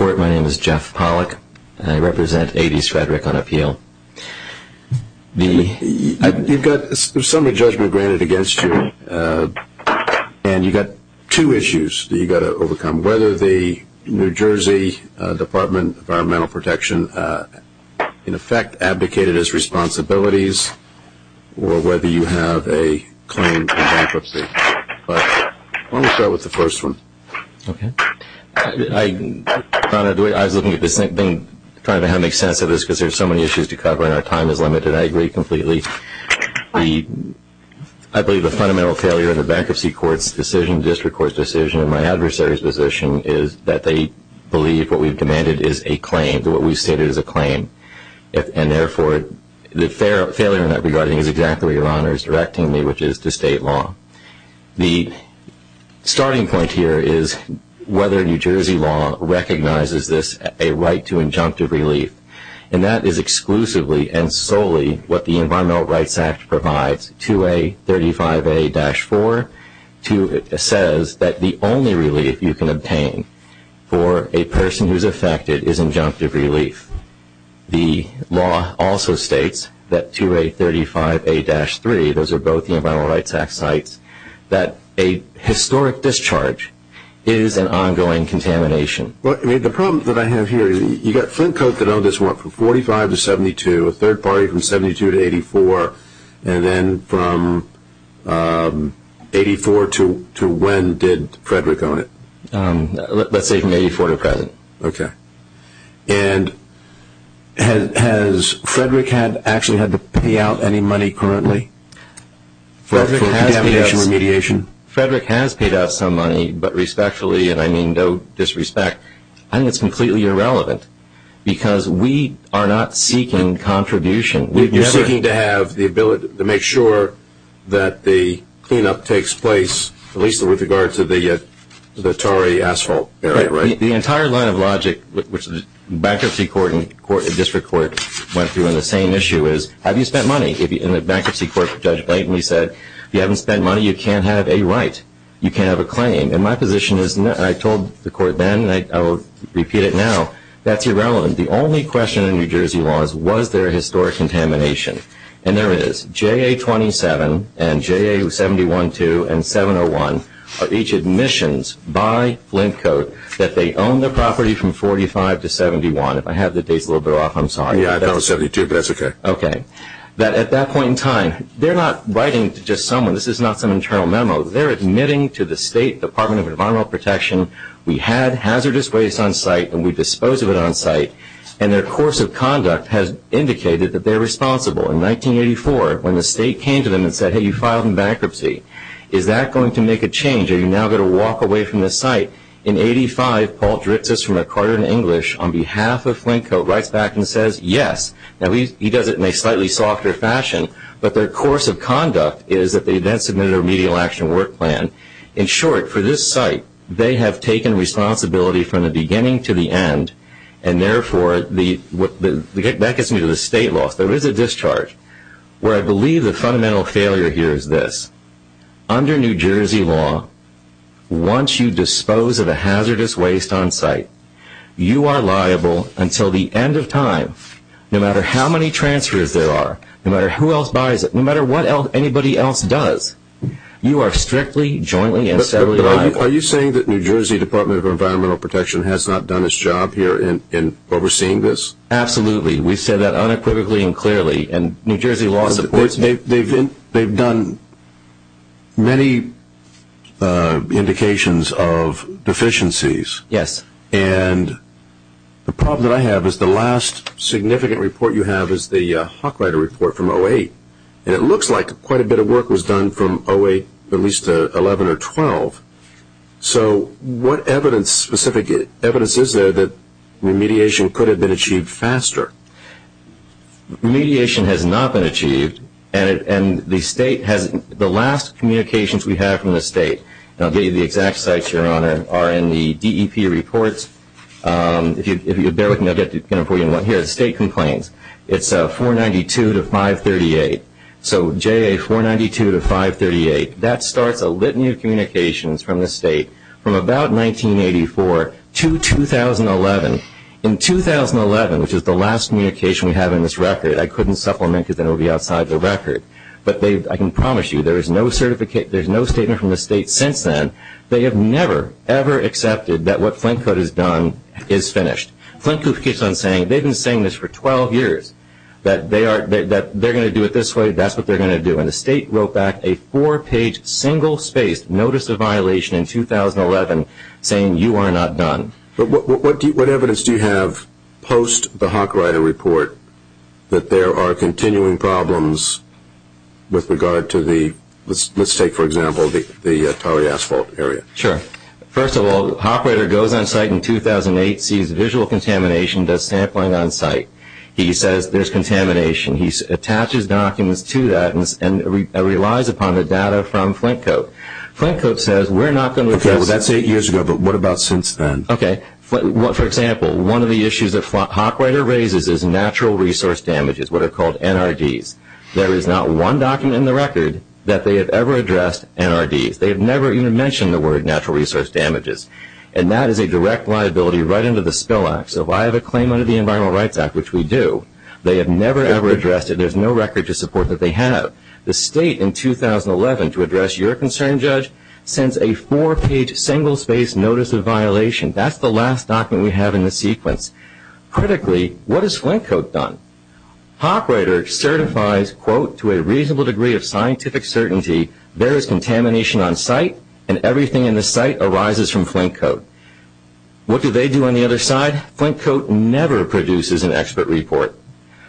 My name is Jeff Pollack, and I represent A.D. Stradrick on Appeal. You've got a summary judgment granted against you, and you've got two issues that you've got to overcome, whether the New Jersey Department of Environmental Protection in effect advocated its responsibilities or whether you have a claim for bankruptcy. But why don't we start with the first one? I was looking at this thing, trying to make sense of this because there are so many issues to cover and our time is limited. I agree completely. I believe the fundamental failure in the bankruptcy court's decision, district court's decision, and my adversary's position is that they believe what we've demanded is a claim, that what we've stated is a claim. And therefore, the failure in that regarding is exactly what your Honor is directing me, which is to state law. The starting point here is whether New Jersey law recognizes this, a right to injunctive relief. And that is exclusively and solely what the Environmental Rights Act provides, 2A35A-4. It says that the only relief you can obtain for a person who is affected is injunctive relief. The law also states that 2A35A-3, those are both the Environmental Rights Act sites, that a historic discharge is an ongoing contamination. The problem that I have here is you've got Flint Cote that owned this one from 45 to 72, a third party from 72 to 84, and then from 84 to when did Frederick own it? Let's say from 84 to present. Okay. And has Frederick actually had to pay out any money currently for deamidation remediation? Frederick has paid out some money, but respectfully, and I mean no disrespect, I think it's completely irrelevant because we are not seeking contribution. You're seeking to have the ability to make sure that the cleanup takes place, at least with regard to the Torrey asphalt area, right? The entire line of logic which the bankruptcy court and district court went through on the same issue is have you spent money? In the bankruptcy court, Judge Blayton, he said if you haven't spent money, you can't have a right. You can't have a claim. And my position is, and I told the court then and I will repeat it now, that's irrelevant. The only question in New Jersey law is was there a historic contamination? And there is. JA-27 and JA-71-2 and 701 are each admissions by Flint Code that they own the property from 45 to 71. If I have the dates a little bit off, I'm sorry. Yeah, I thought it was 72, but that's okay. Okay. At that point in time, they're not writing to just someone. This is not some internal memo. They're admitting to the State Department of Environmental Protection, we had hazardous waste on site and we disposed of it on site, and their course of conduct has indicated that they're responsible. In 1984, when the state came to them and said, hey, you filed in bankruptcy, is that going to make a change? Are you now going to walk away from the site? In 85, Paul Dritzis from MacArthur and English, on behalf of Flint Code, writes back and says, yes. Now, he does it in a slightly softer fashion, but their course of conduct is that they then submitted a remedial action work plan. In short, for this site, they have taken responsibility from the beginning to the end, and, therefore, that gets me to the state laws. There is a discharge where I believe the fundamental failure here is this. Under New Jersey law, once you dispose of a hazardous waste on site, you are liable until the end of time, no matter how many transfers there are, no matter who else buys it, no matter what anybody else does. You are strictly, jointly, and steadily liable. Are you saying that New Jersey Department of Environmental Protection has not done its job here in overseeing this? Absolutely. We've said that unequivocally and clearly, and New Jersey law supports it. They've done many indications of deficiencies. Yes. And the problem that I have is the last significant report you have is the Hochreiter report from 08, and it looks like quite a bit of work was done from 08 at least to 11 or 12. So what specific evidence is there that remediation could have been achieved faster? Remediation has not been achieved, and the last communications we have from the state, and I'll give you the exact sites, Your Honor, are in the DEP reports. If you bear with me, I'll get them for you. Here are the state complaints. It's 492 to 538. So JA 492 to 538. That starts a litany of communications from the state from about 1984 to 2011. In 2011, which is the last communication we have in this record, I couldn't supplement because it would be outside the record, but I can promise you there is no statement from the state since then. They have never, ever accepted that what Flint Code has done is finished. Flint Code keeps on saying, they've been saying this for 12 years, that they're going to do it this way, that's what they're going to do. And the state wrote back a four-page single-spaced notice of violation in 2011 saying you are not done. But what evidence do you have post the Hochreiter report that there are continuing problems with regard to the, let's take, for example, the tarry asphalt area? Sure. First of all, Hochreiter goes on site in 2008, sees visual contamination, does sampling on site. He says there's contamination. He attaches documents to that and relies upon the data from Flint Code. Flint Code says we're not going to address this. Okay, that's eight years ago, but what about since then? Okay. For example, one of the issues that Hochreiter raises is natural resource damages, what are called NRDs. There is not one document in the record that they have ever addressed NRDs. They have never even mentioned the word natural resource damages, and that is a direct liability right under the Spill Act. So if I have a claim under the Environmental Rights Act, which we do, they have never, ever addressed it. There's no record to support that they have. The state in 2011, to address your concern, Judge, sends a four-page single-spaced notice of violation. That's the last document we have in the sequence. Critically, what has Flint Code done? Hochreiter certifies, quote, to a reasonable degree of scientific certainty there is contamination on site and everything in the site arises from Flint Code. What do they do on the other side? Flint Code never produces an expert report.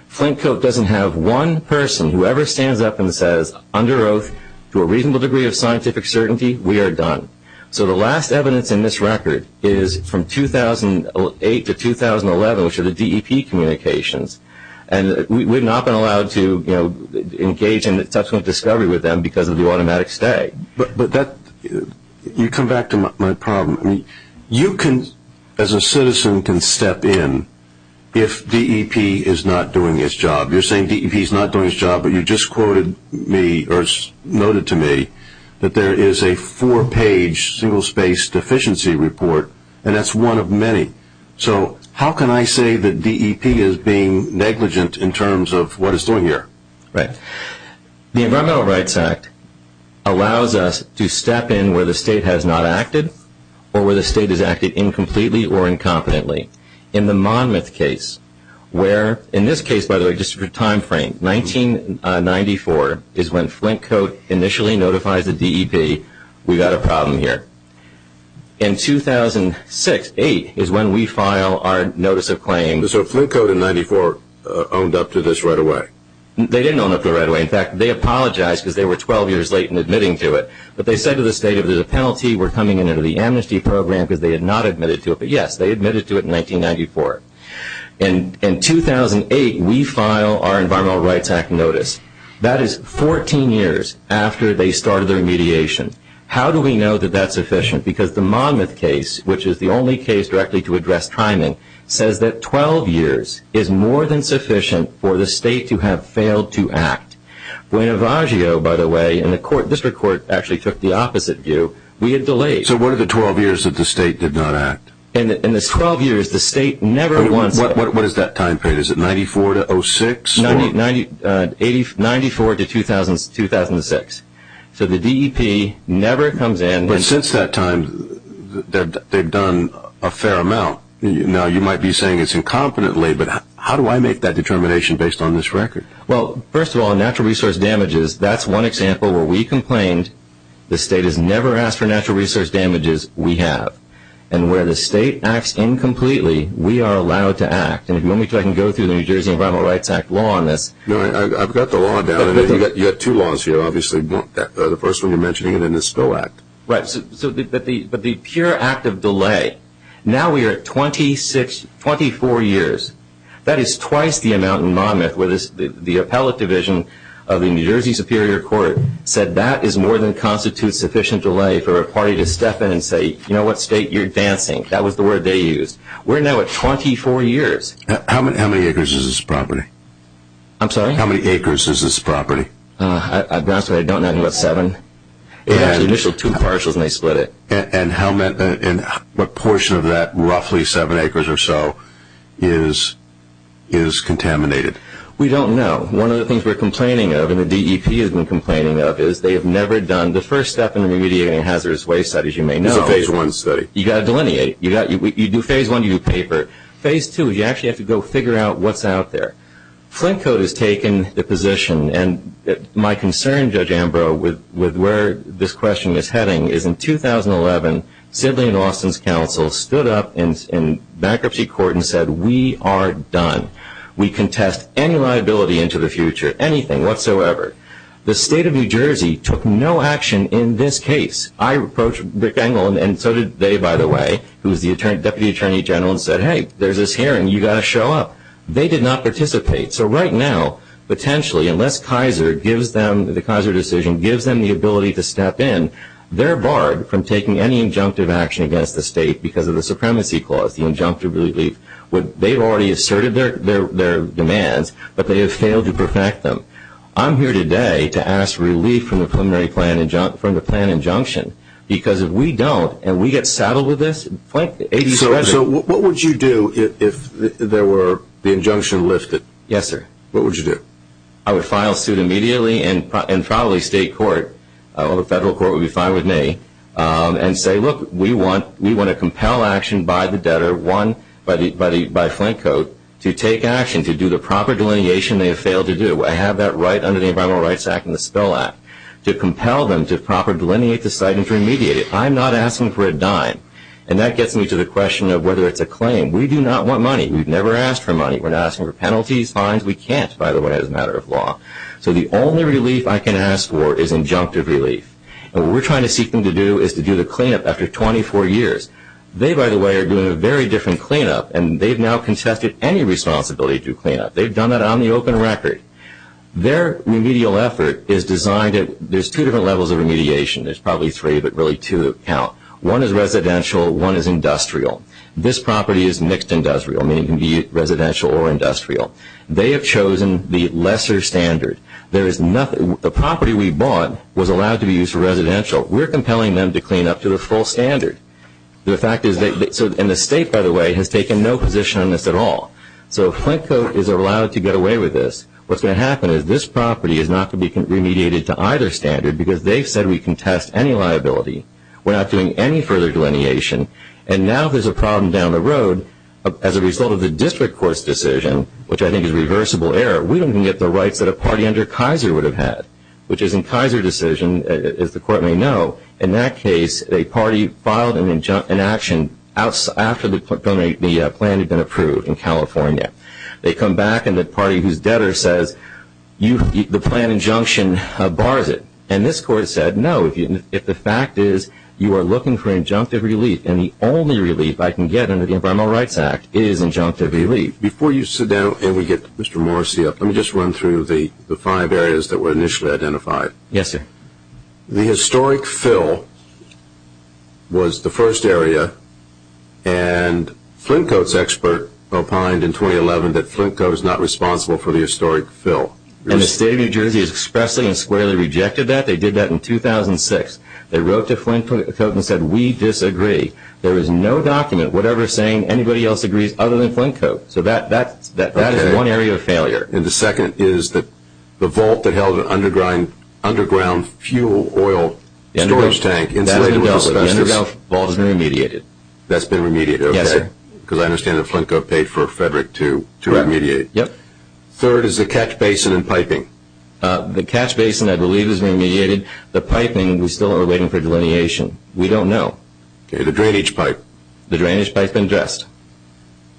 Flint Code doesn't have one person, whoever stands up and says, under oath, to a reasonable degree of scientific certainty, we are done. So the last evidence in this record is from 2008 to 2011, which are the DEP communications, and we have not been allowed to engage in subsequent discovery with them because of the automatic stay. But that, you come back to my problem. You can, as a citizen, can step in if DEP is not doing its job. You're saying DEP is not doing its job, but you just quoted me, or noted to me, that there is a four-page single-spaced deficiency report, and that's one of many. So how can I say that DEP is being negligent in terms of what it's doing here? Right. The Environmental Rights Act allows us to step in where the state has not acted or where the state has acted incompletely or incompetently. In the Monmouth case, where, in this case, by the way, just for time frame, 1994 is when Flint Code initially notifies the DEP, we've got a problem here. In 2006, 2008, is when we file our notice of claim. So Flint Code in 1994 owned up to this right away? They didn't own up to it right away. In fact, they apologized because they were 12 years late in admitting to it. But they said to the state, if there's a penalty, we're coming in under the amnesty program because they had not admitted to it. But, yes, they admitted to it in 1994. In 2008, we file our Environmental Rights Act notice. That is 14 years after they started their mediation. How do we know that that's sufficient? Because the Monmouth case, which is the only case directly to address timing, says that 12 years is more than sufficient for the state to have failed to act. Buenavagio, by the way, in the court, district court, actually took the opposite view. We had delays. So what are the 12 years that the state did not act? In the 12 years, the state never wants it. What is that time period? Is it 94 to 06? 94 to 2006. So the DEP never comes in. But since that time, they've done a fair amount. Now, you might be saying it's incompetently, but how do I make that determination based on this record? Well, first of all, natural resource damages, that's one example where we complained. The state has never asked for natural resource damages. We have. And where the state acts incompletely, we are allowed to act. And if you want me to, I can go through the New Jersey Environmental Rights Act law on this. No, I've got the law down. You've got two laws here, obviously. The first one you're mentioning, and then the Stowe Act. Right. But the pure act of delay. Now we are at 24 years. That is twice the amount in Monmouth where the appellate division of the New Jersey Superior Court said that is more than constitutes sufficient delay for a party to step in and say, you know what, state, you're advancing. That was the word they used. We're now at 24 years. How many acres is this property? I'm sorry? How many acres is this property? I've gone through it. I don't know. I think about seven. It has the initial two partials, and they split it. And what portion of that roughly seven acres or so is contaminated? We don't know. One of the things we're complaining of, and the DEP has been complaining of, is they have never done the first step in remediating hazardous waste, as you may know. It's a phase one study. You've got to delineate. You do phase one, you do paper. Phase two is you actually have to go figure out what's out there. Flint Code has taken the position, and my concern, Judge Ambrose, with where this question is heading is in 2011, Sidley and Austin's counsel stood up in bankruptcy court and said, we are done. We contest any liability into the future, anything whatsoever. The state of New Jersey took no action in this case. I approached Rick Engel, and so did they, by the way, who was the Deputy Attorney General, and said, hey, there's this hearing. You've got to show up. They did not participate. So right now, potentially, unless the Kaiser decision gives them the ability to step in, they're barred from taking any injunctive action against the state because of the Supremacy Clause, the injunctive relief. They've already asserted their demands, but they have failed to perfect them. I'm here today to ask relief from the preliminary plan injunction, because if we don't and we get saddled with this, Flint 80% of it. So what would you do if there were the injunction lifted? Yes, sir. What would you do? I would file suit immediately and probably state court, or the federal court would be fine with me, and say, look, we want to compel action by the debtor, one, by Flint Code, to take action, to do the proper delineation they have failed to do. I have that right under the Environmental Rights Act and the Spill Act, to compel them to proper delineate the site and to remediate it. I'm not asking for a dime. And that gets me to the question of whether it's a claim. We do not want money. We've never asked for money. We're not asking for penalties, fines. We can't, by the way, as a matter of law. So the only relief I can ask for is injunctive relief. And what we're trying to seek them to do is to do the cleanup after 24 years. They, by the way, are doing a very different cleanup, and they've now contested any responsibility to do cleanup. They've done that on the open record. Their remedial effort is designed at, there's two different levels of remediation. There's probably three, but really two that count. One is residential. One is industrial. This property is mixed industrial, meaning it can be residential or industrial. They have chosen the lesser standard. The property we bought was allowed to be used for residential. We're compelling them to clean up to the full standard. And the state, by the way, has taken no position on this at all. So if Flintcoat is allowed to get away with this, what's going to happen is this property is not going to be remediated to either standard because they've said we contest any liability. We're not doing any further delineation. And now there's a problem down the road as a result of the district court's decision, which I think is reversible error. We don't even get the rights that a party under Kaiser would have had, which is in Kaiser's decision, as the court may know, in that case a party filed an action after the plan had been approved in California. They come back and the party who's debtor says the plan injunction bars it. And this court said, no, if the fact is you are looking for injunctive relief, and the only relief I can get under the Environmental Rights Act is injunctive relief. Before you sit down and we get Mr. Morrissey up, let me just run through the five areas that were initially identified. Yes, sir. The historic fill was the first area, and Flintcoat's expert opined in 2011 that Flintcoat is not responsible for the historic fill. And the state of New Jersey has expressly and squarely rejected that. They did that in 2006. They wrote to Flintcoat and said, we disagree. There is no document, whatever, saying anybody else agrees other than Flintcoat. So that is one area of failure. And the second is the vault that held an underground fuel oil storage tank. That's been dealt with. The underground vault has been remediated. That's been remediated, okay. Yes, sir. Because I understand that Flintcoat paid for Frederick to remediate. Yep. Third is the catch basin and piping. The catch basin, I believe, has been remediated. The piping, we still are waiting for delineation. We don't know. Okay, the drainage pipe. The drainage pipe has been addressed.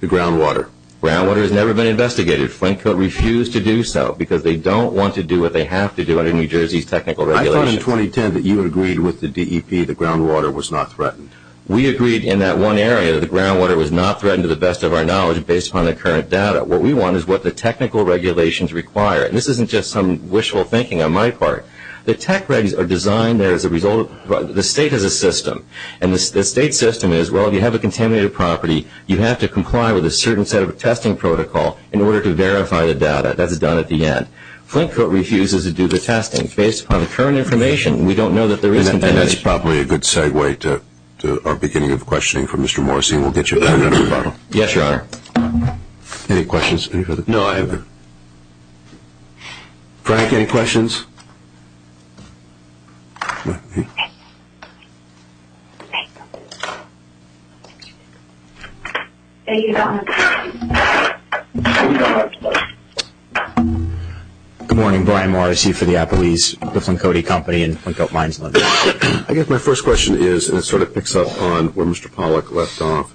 The groundwater. Groundwater has never been investigated. Flintcoat refused to do so because they don't want to do what they have to do under New Jersey's technical regulations. I thought in 2010 that you had agreed with the DEP that groundwater was not threatened. We agreed in that one area that groundwater was not threatened to the best of our knowledge based upon the current data. What we want is what the technical regulations require. And this isn't just some wishful thinking on my part. The tech regs are designed there as a result of the state as a system. And the state system is, well, if you have a contaminated property, you have to comply with a certain set of testing protocol in order to verify the data. That's done at the end. Flintcoat refuses to do the testing based upon the current information. We don't know that there is contamination. And that's probably a good segue to our beginning of questioning from Mr. Morrison. We'll get you another bottle. Yes, Your Honor. Any questions? No, I have none. Frank, any questions? Frank? Frank? Any comments? Good morning. Brian Morris here for the Applebee's, the Flintcoat Company and Flintcoat Mines. I guess my first question is, and it sort of picks up on where Mr. Pollack left off,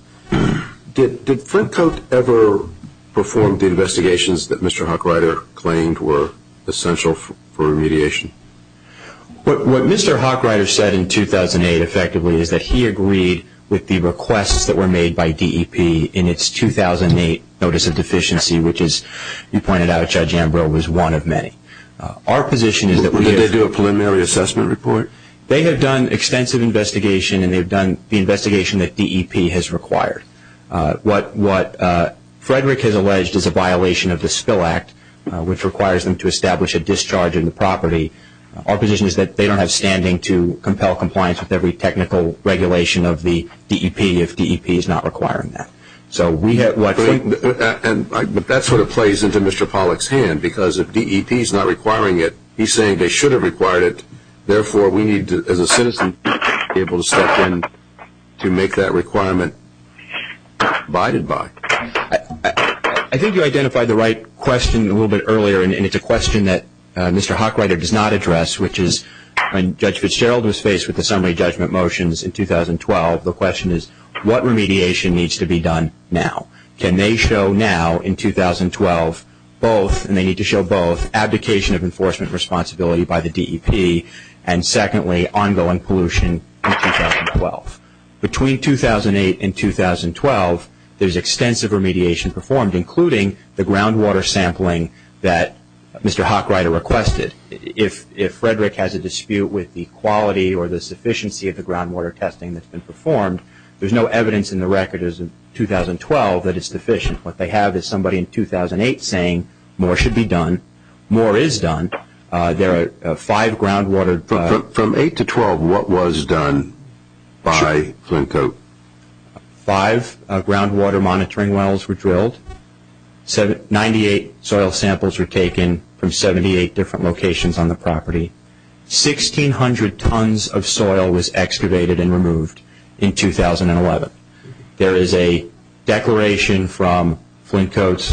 did Flintcoat ever perform the investigations that Mr. Hochreiter claimed were essential for remediation? What Mr. Hochreiter said in 2008, effectively, is that he agreed with the requests that were made by DEP in its 2008 notice of deficiency, which as you pointed out, Judge Ambrose, was one of many. Our position is that we have Did they do a preliminary assessment report? They have done extensive investigation, and they've done the investigation that DEP has required. What Frederick has alleged is a violation of the Spill Act, which requires them to establish a discharge in the property. Our position is that they don't have standing to compel compliance with every technical regulation of the DEP if DEP is not requiring that. But that sort of plays into Mr. Pollack's hand, because if DEP is not requiring it, he's saying they should have required it. Therefore, we need to, as a citizen, be able to step in to make that requirement abided by. I think you identified the right question a little bit earlier, and it's a question that Mr. Hochreiter does not address, which is when Judge Fitzgerald was faced with the summary judgment motions in 2012, the question is, what remediation needs to be done now? Can they show now in 2012 both, and they need to show both, abdication of enforcement responsibility by the DEP and, secondly, ongoing pollution in 2012? Between 2008 and 2012, there's extensive remediation performed, including the groundwater sampling that Mr. Hochreiter requested. If Frederick has a dispute with the quality or the sufficiency of the groundwater testing that's been performed, there's no evidence in the record as of 2012 that it's deficient. What they have is somebody in 2008 saying more should be done, more is done. There are five groundwater- From 8 to 12, what was done by Flintcoat? Five groundwater monitoring wells were drilled. Ninety-eight soil samples were taken from 78 different locations on the property. Sixteen hundred tons of soil was excavated and removed in 2011. There is a declaration from Flintcoat's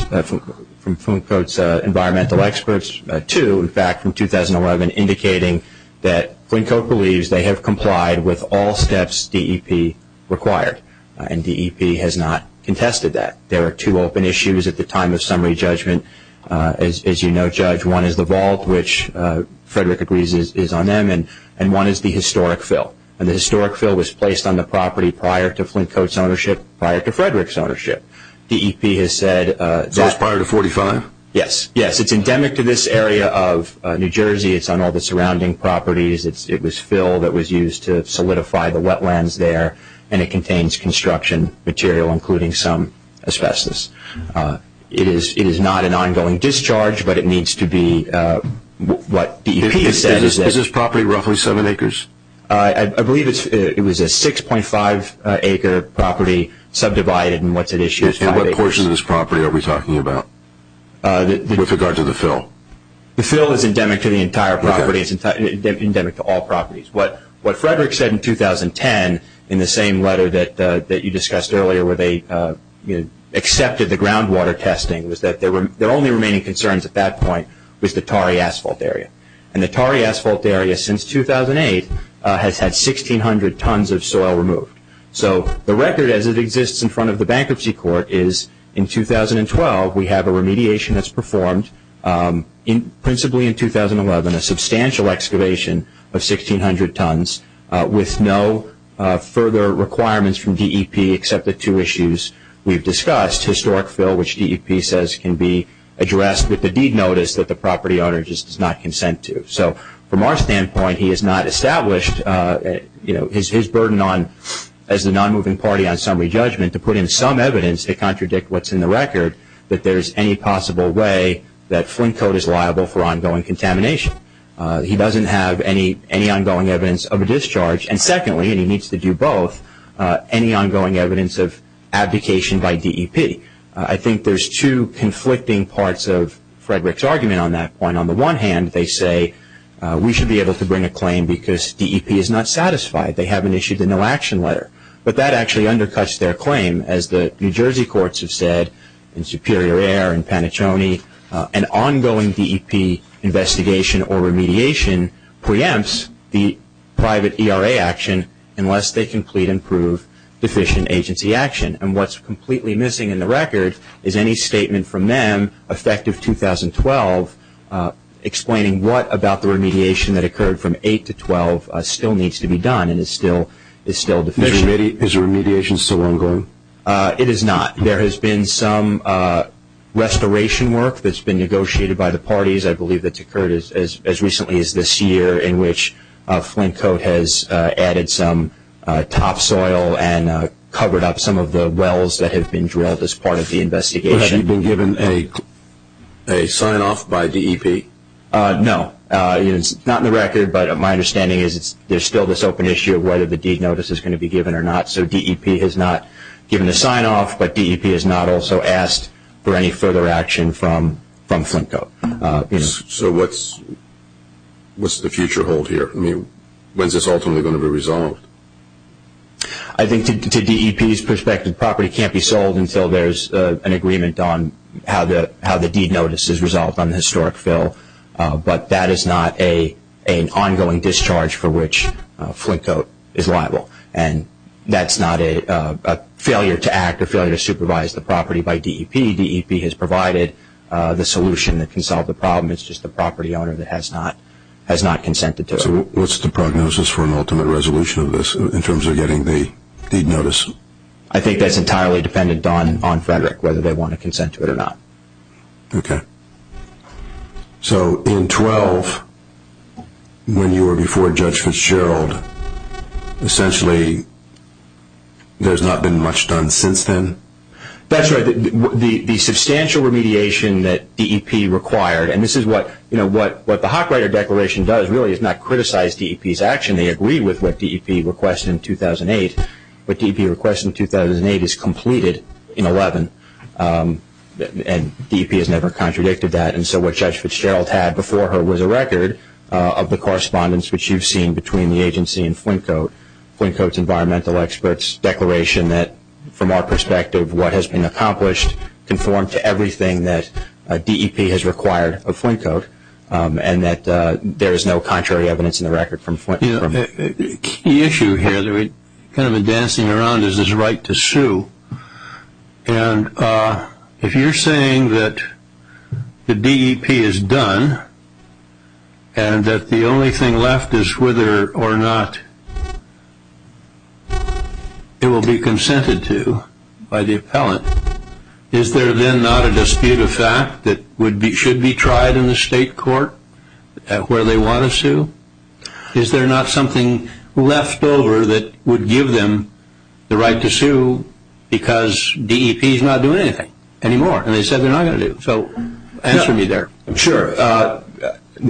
environmental experts, two, in fact, from 2011, indicating that Flintcoat believes they have complied with all steps DEP required, and DEP has not contested that. There are two open issues at the time of summary judgment. As you know, Judge, one is the vault, which Frederick agrees is on them, and one is the historic fill. The historic fill was placed on the property prior to Flintcoat's ownership, prior to Frederick's ownership. DEP has said- So it's prior to 45? Yes, yes. It's endemic to this area of New Jersey. It's on all the surrounding properties. It was fill that was used to solidify the wetlands there, and it contains construction material, including some asbestos. It is not an ongoing discharge, but it needs to be what DEP has said- Is this property roughly seven acres? I believe it was a 6.5-acre property subdivided, and what's at issue is five acres. And what portion of this property are we talking about with regard to the fill? The fill is endemic to the entire property. It's endemic to all properties. What Frederick said in 2010, in the same letter that you discussed earlier, where they accepted the groundwater testing, was that their only remaining concerns at that point was the Tarry Asphalt Area. And the Tarry Asphalt Area, since 2008, has had 1,600 tons of soil removed. So the record as it exists in front of the Bankruptcy Court is, in 2012, we have a remediation that's performed, principally in 2011, a substantial excavation of 1,600 tons with no further requirements from DEP except the two issues we've discussed- historic fill, which DEP says can be addressed with the deed notice that the property owner just does not consent to. So from our standpoint, he has not established his burden as the non-moving party on summary judgment to put in some evidence to contradict what's in the record, that there's any possible way that Flint coat is liable for ongoing contamination. He doesn't have any ongoing evidence of a discharge. And secondly, and he needs to do both, any ongoing evidence of abdication by DEP. I think there's two conflicting parts of Frederick's argument on that point. On the one hand, they say we should be able to bring a claim because DEP is not satisfied. They haven't issued a no-action letter. But that actually undercuts their claim. As the New Jersey courts have said in Superior Air and Panaccione, an ongoing DEP investigation or remediation preempts the private ERA action unless they complete and prove deficient agency action. And what's completely missing in the record is any statement from them effective 2012 explaining what about the remediation that occurred from 8 to 12 still needs to be done and is still deficient. Is the remediation still ongoing? It is not. There has been some restoration work that's been negotiated by the parties. I believe that's occurred as recently as this year in which Flint coat has added some topsoil and covered up some of the wells that have been drilled as part of the investigation. Has he been given a sign-off by DEP? No. It's not in the record, but my understanding is there's still this open issue of whether the deed notice is going to be given or not. So DEP has not given a sign-off, but DEP has not also asked for any further action from Flint coat. So what's the future hold here? When is this ultimately going to be resolved? I think to DEP's perspective, the property can't be sold until there's an agreement on how the deed notice is resolved on the historic fill, but that is not an ongoing discharge for which Flint coat is liable, and that's not a failure to act or failure to supervise the property by DEP. DEP has provided the solution that can solve the problem. It's just the property owner that has not consented to it. So what's the prognosis for an ultimate resolution of this in terms of getting the deed notice? I think that's entirely dependent on Frederick, whether they want to consent to it or not. Okay. So in 12, when you were before Judge Fitzgerald, essentially there's not been much done since then? That's right. The substantial remediation that DEP required, and this is what the Hockwriter Declaration does really is not criticize DEP's action. They agreed with what DEP requested in 2008. What DEP requested in 2008 is completed in 11, and DEP has never contradicted that. And so what Judge Fitzgerald had before her was a record of the correspondence which you've seen between the agency and Flint coat, Flint coat's environmental experts' declaration that, from our perspective, what has been accomplished conformed to everything that DEP has required of Flint coat, and that there is no contrary evidence in the record from Flint coat. A key issue here that we've kind of been dancing around is this right to sue. And if you're saying that the DEP is done and that the only thing left is whether or not it will be consented to by the appellant, is there then not a dispute of fact that should be tried in the state court where they want to sue? Is there not something left over that would give them the right to sue because DEP is not doing anything anymore? And they said they're not going to do. So answer me there. Sure.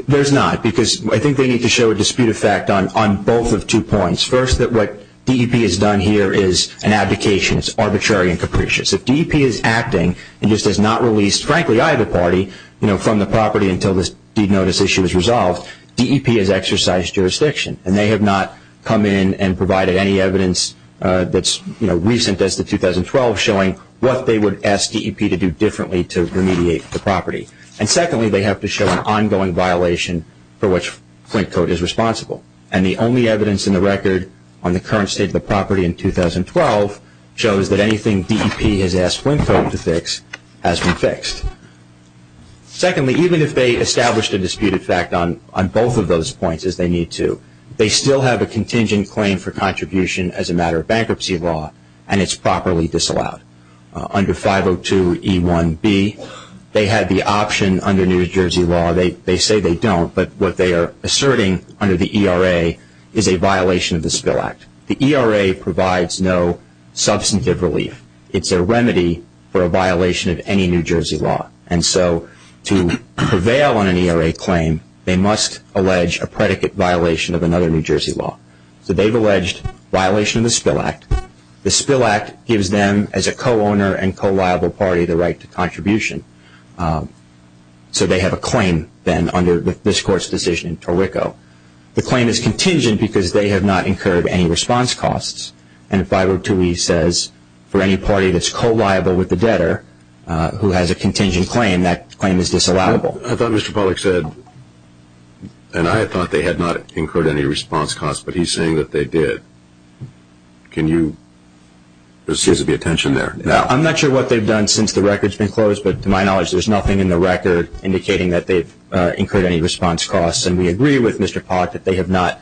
There's not, because I think they need to show a dispute of fact on both of two points. First, that what DEP has done here is an abdication. It's arbitrary and capricious. If DEP is acting and just has not released, frankly, either party from the property until this deed notice issue is resolved, DEP has exercised jurisdiction. And they have not come in and provided any evidence that's recent as to 2012 showing what they would ask DEP to do differently to remediate the property. And secondly, they have to show an ongoing violation for which Flint coat is responsible. And the only evidence in the record on the current state of the property in 2012 shows that anything DEP has asked Flint coat to fix has been fixed. Secondly, even if they established a dispute of fact on both of those points, as they need to, they still have a contingent claim for contribution as a matter of bankruptcy law, and it's properly disallowed. Under 502E1B, they had the option under New Jersey law. They say they don't, but what they are asserting under the ERA is a violation of the Spill Act. The ERA provides no substantive relief. It's a remedy for a violation of any New Jersey law. And so to prevail on an ERA claim, they must allege a predicate violation of another New Jersey law. So they've alleged violation of the Spill Act. The Spill Act gives them, as a co-owner and co-liable party, the right to contribution. So they have a claim then under this court's decision in Torrico. The claim is contingent because they have not incurred any response costs. And 502E says for any party that's co-liable with the debtor who has a contingent claim, that claim is disallowable. I thought Mr. Pollack said, and I thought they had not incurred any response costs, but he's saying that they did. Can you, there seems to be a tension there. I'm not sure what they've done since the record's been closed, but to my knowledge, there's nothing in the record indicating that they've incurred any response costs. And we agree with Mr. Pollack that they have not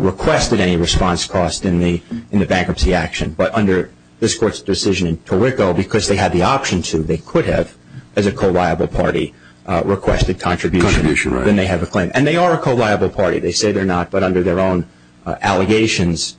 requested any response costs in the bankruptcy action. But under this court's decision in Torrico, because they had the option to, they could have, as a co-liable party, requested contribution. Contribution, right. Then they have a claim. And they are a co-liable party. They say they're not, but under their own allegations,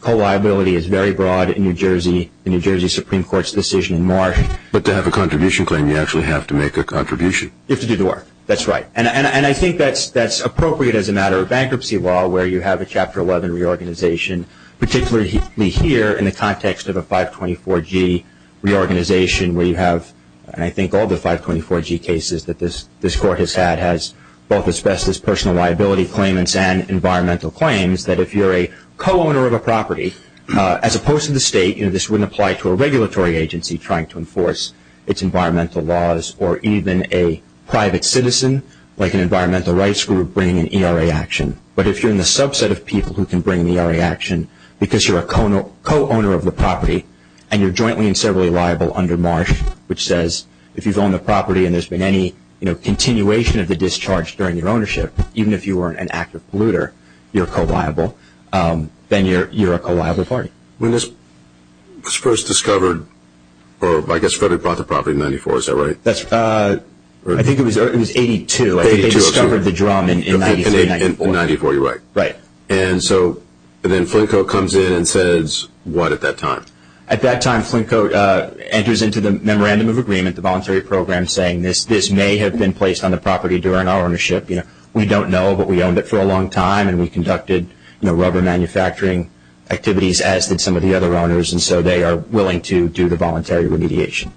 co-liability is very broad in New Jersey, the New Jersey Supreme Court's decision in March. But to have a contribution claim, you actually have to make a contribution. You have to do the work. That's right. And I think that's appropriate as a matter of bankruptcy law where you have a Chapter 11 reorganization, particularly here in the context of a 524G reorganization where you have, and I think all the 524G cases that this court has had has both expressed this personal liability claim and environmental claims that if you're a co-owner of a property, as opposed to the state, this wouldn't apply to a regulatory agency trying to enforce its environmental laws or even a private citizen like an environmental rights group bringing an ERA action. But if you're in the subset of people who can bring an ERA action because you're a co-owner of the property and you're jointly and severally liable under Marsh, which says if you've owned the property and there's been any continuation of the discharge during your ownership, even if you were an active polluter, you're co-liable, then you're a co-liable party. When this was first discovered, or I guess Frederick brought the property in 1994, is that right? I think it was 82. They discovered the drum in 93, 94. In 94, you're right. Right. And so then Flinko comes in and says what at that time? At that time, Flinko enters into the Memorandum of Agreement, the voluntary program, saying this may have been placed on the property during our ownership. We don't know, but we owned it for a long time, and we conducted rubber manufacturing activities as did some of the other owners, and so they are willing to do the voluntary remediation.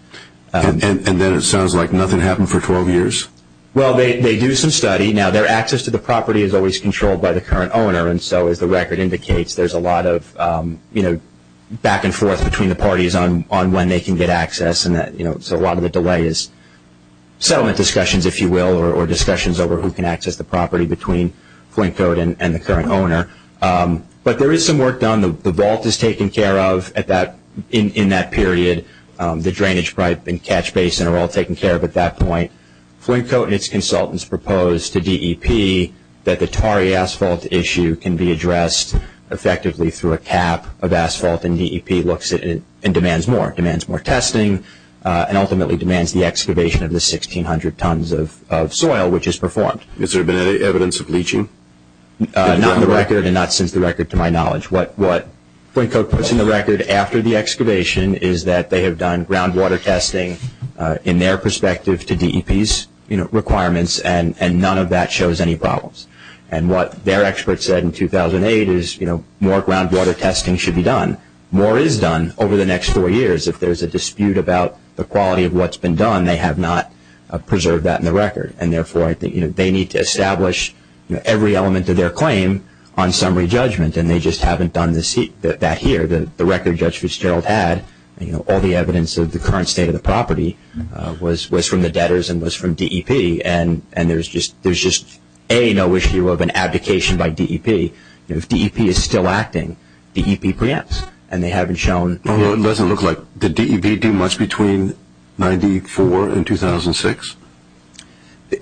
And then it sounds like nothing happened for 12 years? Well, they do some study. Now, their access to the property is always controlled by the current owner, and so as the record indicates, there's a lot of back and forth between the parties on when they can get access, so a lot of the delay is settlement discussions, if you will, or discussions over who can access the property between Flinko and the current owner. But there is some work done. The vault is taken care of in that period. The drainage pipe and catch basin are all taken care of at that point. Flinko and its consultants propose to DEP that the tarry asphalt issue can be addressed effectively through a cap of asphalt, and DEP looks at it and demands more. It demands more testing and ultimately demands the excavation of the 1,600 tons of soil, which is performed. Has there been any evidence of leaching? Not on the record and not since the record to my knowledge. What Flinko puts in the record after the excavation is that they have done groundwater testing in their perspective to DEP's requirements, and none of that shows any problems. And what their experts said in 2008 is more groundwater testing should be done. More is done over the next four years. If there's a dispute about the quality of what's been done, they have not preserved that in the record, and therefore I think they need to establish every element of their claim on summary judgment, and they just haven't done that here. The record Judge Fitzgerald had, all the evidence of the current state of the property, was from the debtors and was from DEP, and there's just, A, no issue of an abdication by DEP. If DEP is still acting, DEP preempts, and they haven't shown. Well, it doesn't look like. Did DEP do much between 1994 and 2006?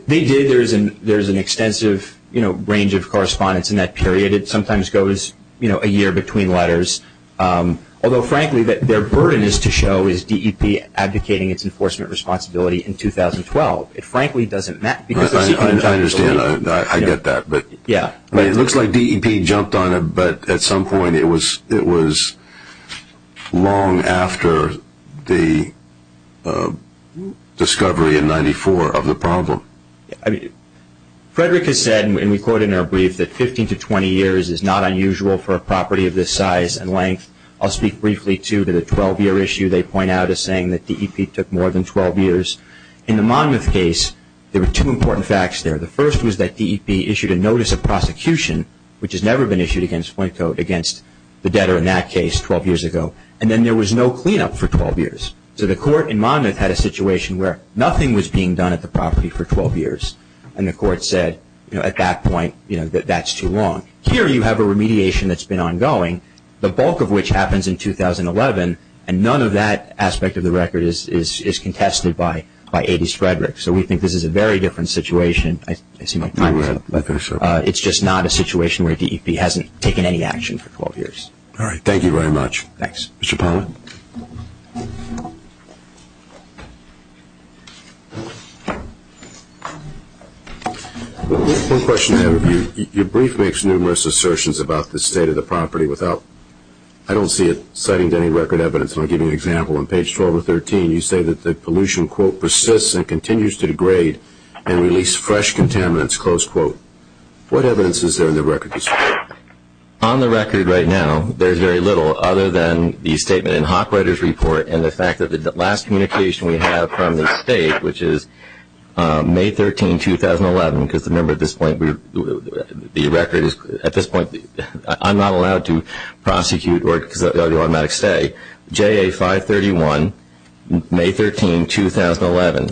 They did. There's an extensive range of correspondence in that period. It sometimes goes a year between letters, although frankly their burden is to show is DEP abdicating its enforcement responsibility in 2012. It frankly doesn't matter. I understand. I get that. It looks like DEP jumped on it, but at some point it was long after the discovery in 1994 of the problem. Frederick has said, and we quote in our brief, that 15 to 20 years is not unusual for a property of this size and length. I'll speak briefly, too, to the 12-year issue they point out as saying that DEP took more than 12 years. In the Monmouth case, there were two important facts there. The first was that DEP issued a notice of prosecution, which has never been issued against the debtor in that case 12 years ago, and then there was no cleanup for 12 years. So the court in Monmouth had a situation where nothing was being done at the property for 12 years, and the court said at that point that that's too long. Here you have a remediation that's been ongoing, the bulk of which happens in 2011, and none of that aspect of the record is contested by A.D. Frederick. So we think this is a very different situation. I see my time is up. It's just not a situation where DEP hasn't taken any action for 12 years. All right, thank you very much. Thanks. Mr. Pollack. One question I have for you. Your brief makes numerous assertions about the state of the property without, I don't see it citing any record evidence, and I'll give you an example. On page 12 of 13, you say that the pollution, quote, persists and continues to degrade and release fresh contaminants, close quote. What evidence is there in the record? On the record right now, there's very little other than the statement in Hawkwriter's report and the fact that the last communication we have from the state, which is May 13, 2011, because remember at this point the record is, at this point I'm not allowed to prosecute because of the automatic stay, JA 531, May 13, 2011.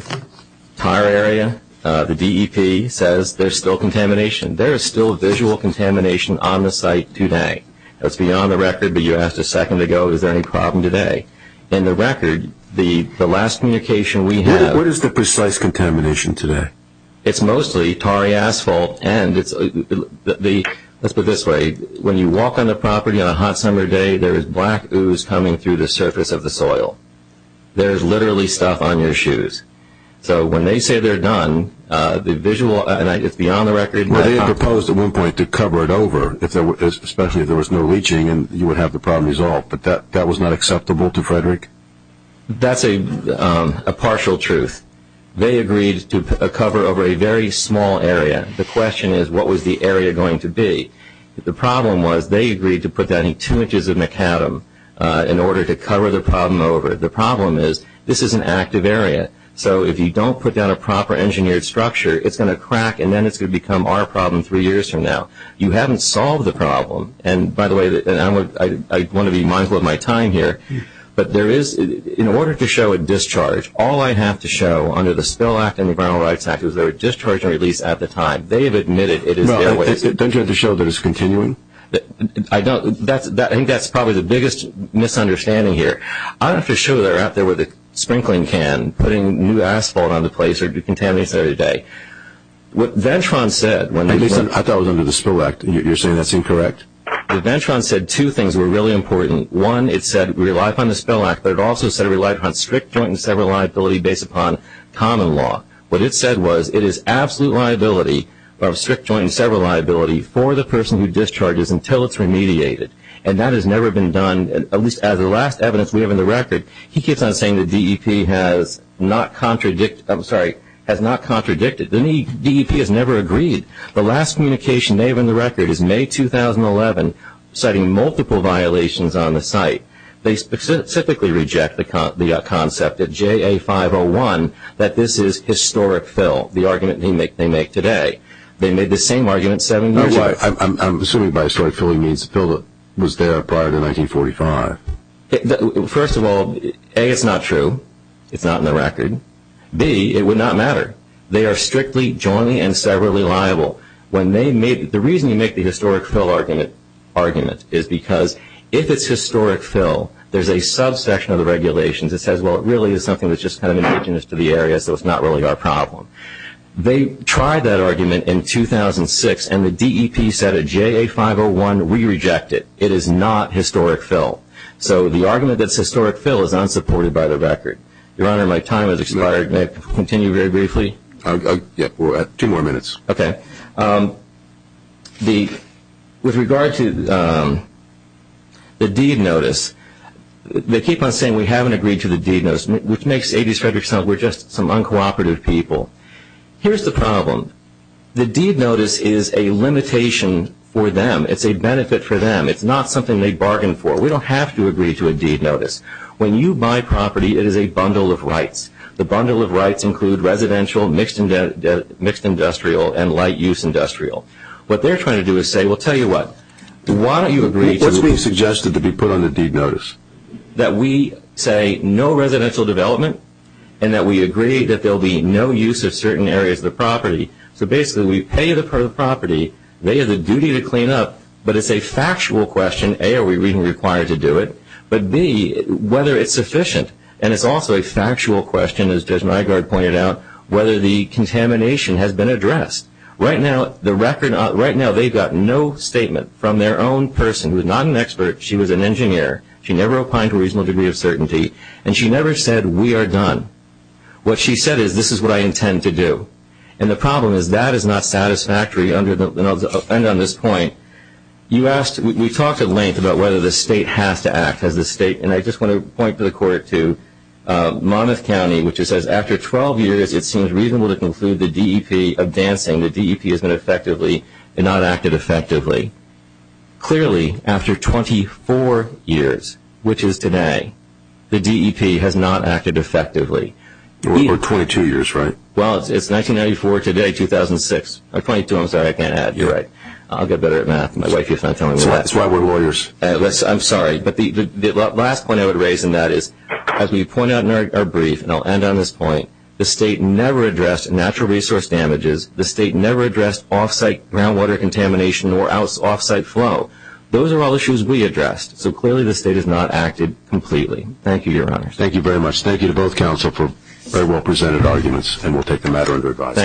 Tire area, the DEP says there's still contamination. There is still visual contamination on the site today. That's beyond the record, but you asked a second ago is there any problem today. In the record, the last communication we have. What is the precise contamination today? It's mostly tarry asphalt and let's put it this way. When you walk on the property on a hot summer day, there is black ooze coming through the surface of the soil. There is literally stuff on your shoes. So when they say they're done, the visual, and it's beyond the record. Well, they had proposed at one point to cover it over, especially if there was no leaching, and you would have the problem resolved, but that was not acceptable to Frederick? That's a partial truth. They agreed to cover over a very small area. The question is what was the area going to be? The problem was they agreed to put down two inches of macadam in order to cover the problem over. The problem is this is an active area. So if you don't put down a proper engineered structure, it's going to crack, and then it's going to become our problem three years from now. You haven't solved the problem. And, by the way, I want to be mindful of my time here, but there is, in order to show a discharge, all I have to show under the Spill Act and the Environmental Rights Act is there was a discharge and release at the time. They have admitted it is their waste. Don't you have to show that it's continuing? I don't. I think that's probably the biggest misunderstanding here. I don't have to show that they're out there with a sprinkling can, putting new asphalt on the place or decontaminating it every day. What Ventron said when they said – I thought it was under the Spill Act. You're saying that's incorrect? Ventron said two things were really important. One, it said rely upon the Spill Act, but it also said rely upon strict joint and several liability based upon common law. What it said was it is absolute liability of strict joint and several liability for the person who discharges until it's remediated. And that has never been done, at least as the last evidence we have in the record. He keeps on saying the DEP has not contradicted. The DEP has never agreed. The last communication they have in the record is May 2011, citing multiple violations on the site. They specifically reject the concept at JA501 that this is historic fill, the argument they make today. They made the same argument seven years ago. I'm assuming by historic fill he means fill that was there prior to 1945. First of all, A, it's not true. It's not in the record. B, it would not matter. They are strictly jointly and severally liable. The reason you make the historic fill argument is because if it's historic fill, there's a subsection of the regulations that says, well, it really is something that's just kind of indigenous to the area, so it's not really our problem. They tried that argument in 2006, and the DEP said at JA501, we reject it. It is not historic fill. So the argument that it's historic fill is unsupported by the record. Your Honor, my time has expired. May I continue very briefly? Yes. We're at two more minutes. Okay. With regard to the deed notice, they keep on saying we haven't agreed to the deed notice, which makes A.D.S. Frederick sound like we're just some uncooperative people. Here's the problem. The deed notice is a limitation for them. It's a benefit for them. It's not something they bargained for. We don't have to agree to a deed notice. When you buy property, it is a bundle of rights. The bundle of rights include residential, mixed industrial, and light use industrial. What they're trying to do is say, well, tell you what. Why don't you agree to the deed notice? What's being suggested to be put on the deed notice? That we say no residential development and that we agree that there will be no use of certain areas of the property. So basically we pay the property. They have the duty to clean up. But it's a factual question. A, are we really required to do it? But B, whether it's sufficient. And it's also a factual question, as Judge Nygaard pointed out, whether the contamination has been addressed. Right now they've got no statement from their own person who is not an expert. She was an engineer. She never opined to a reasonable degree of certainty. And she never said we are done. What she said is this is what I intend to do. And the problem is that is not satisfactory. And I'll end on this point. We talked at length about whether the state has to act. And I just want to point to the court too. Monmouth County, which it says after 12 years it seems reasonable to conclude the DEP of dancing, the DEP has been effectively and not acted effectively. Clearly after 24 years, which is today, the DEP has not acted effectively. Or 22 years, right? Well, it's 1994 today, 2006. Or 22, I'm sorry. I can't add. You're right. I'll get better at math. My wife keeps on telling me that. That's why we're lawyers. I'm sorry. But the last point I would raise in that is, as we point out in our brief, and I'll end on this point, the state never addressed natural resource damages. The state never addressed off-site groundwater contamination or off-site flow. Those are all issues we addressed. So clearly the state has not acted completely. Thank you, Your Honor. Thank you very much. Thank you to both counsel for very well presented arguments. And we'll take the matter under advice.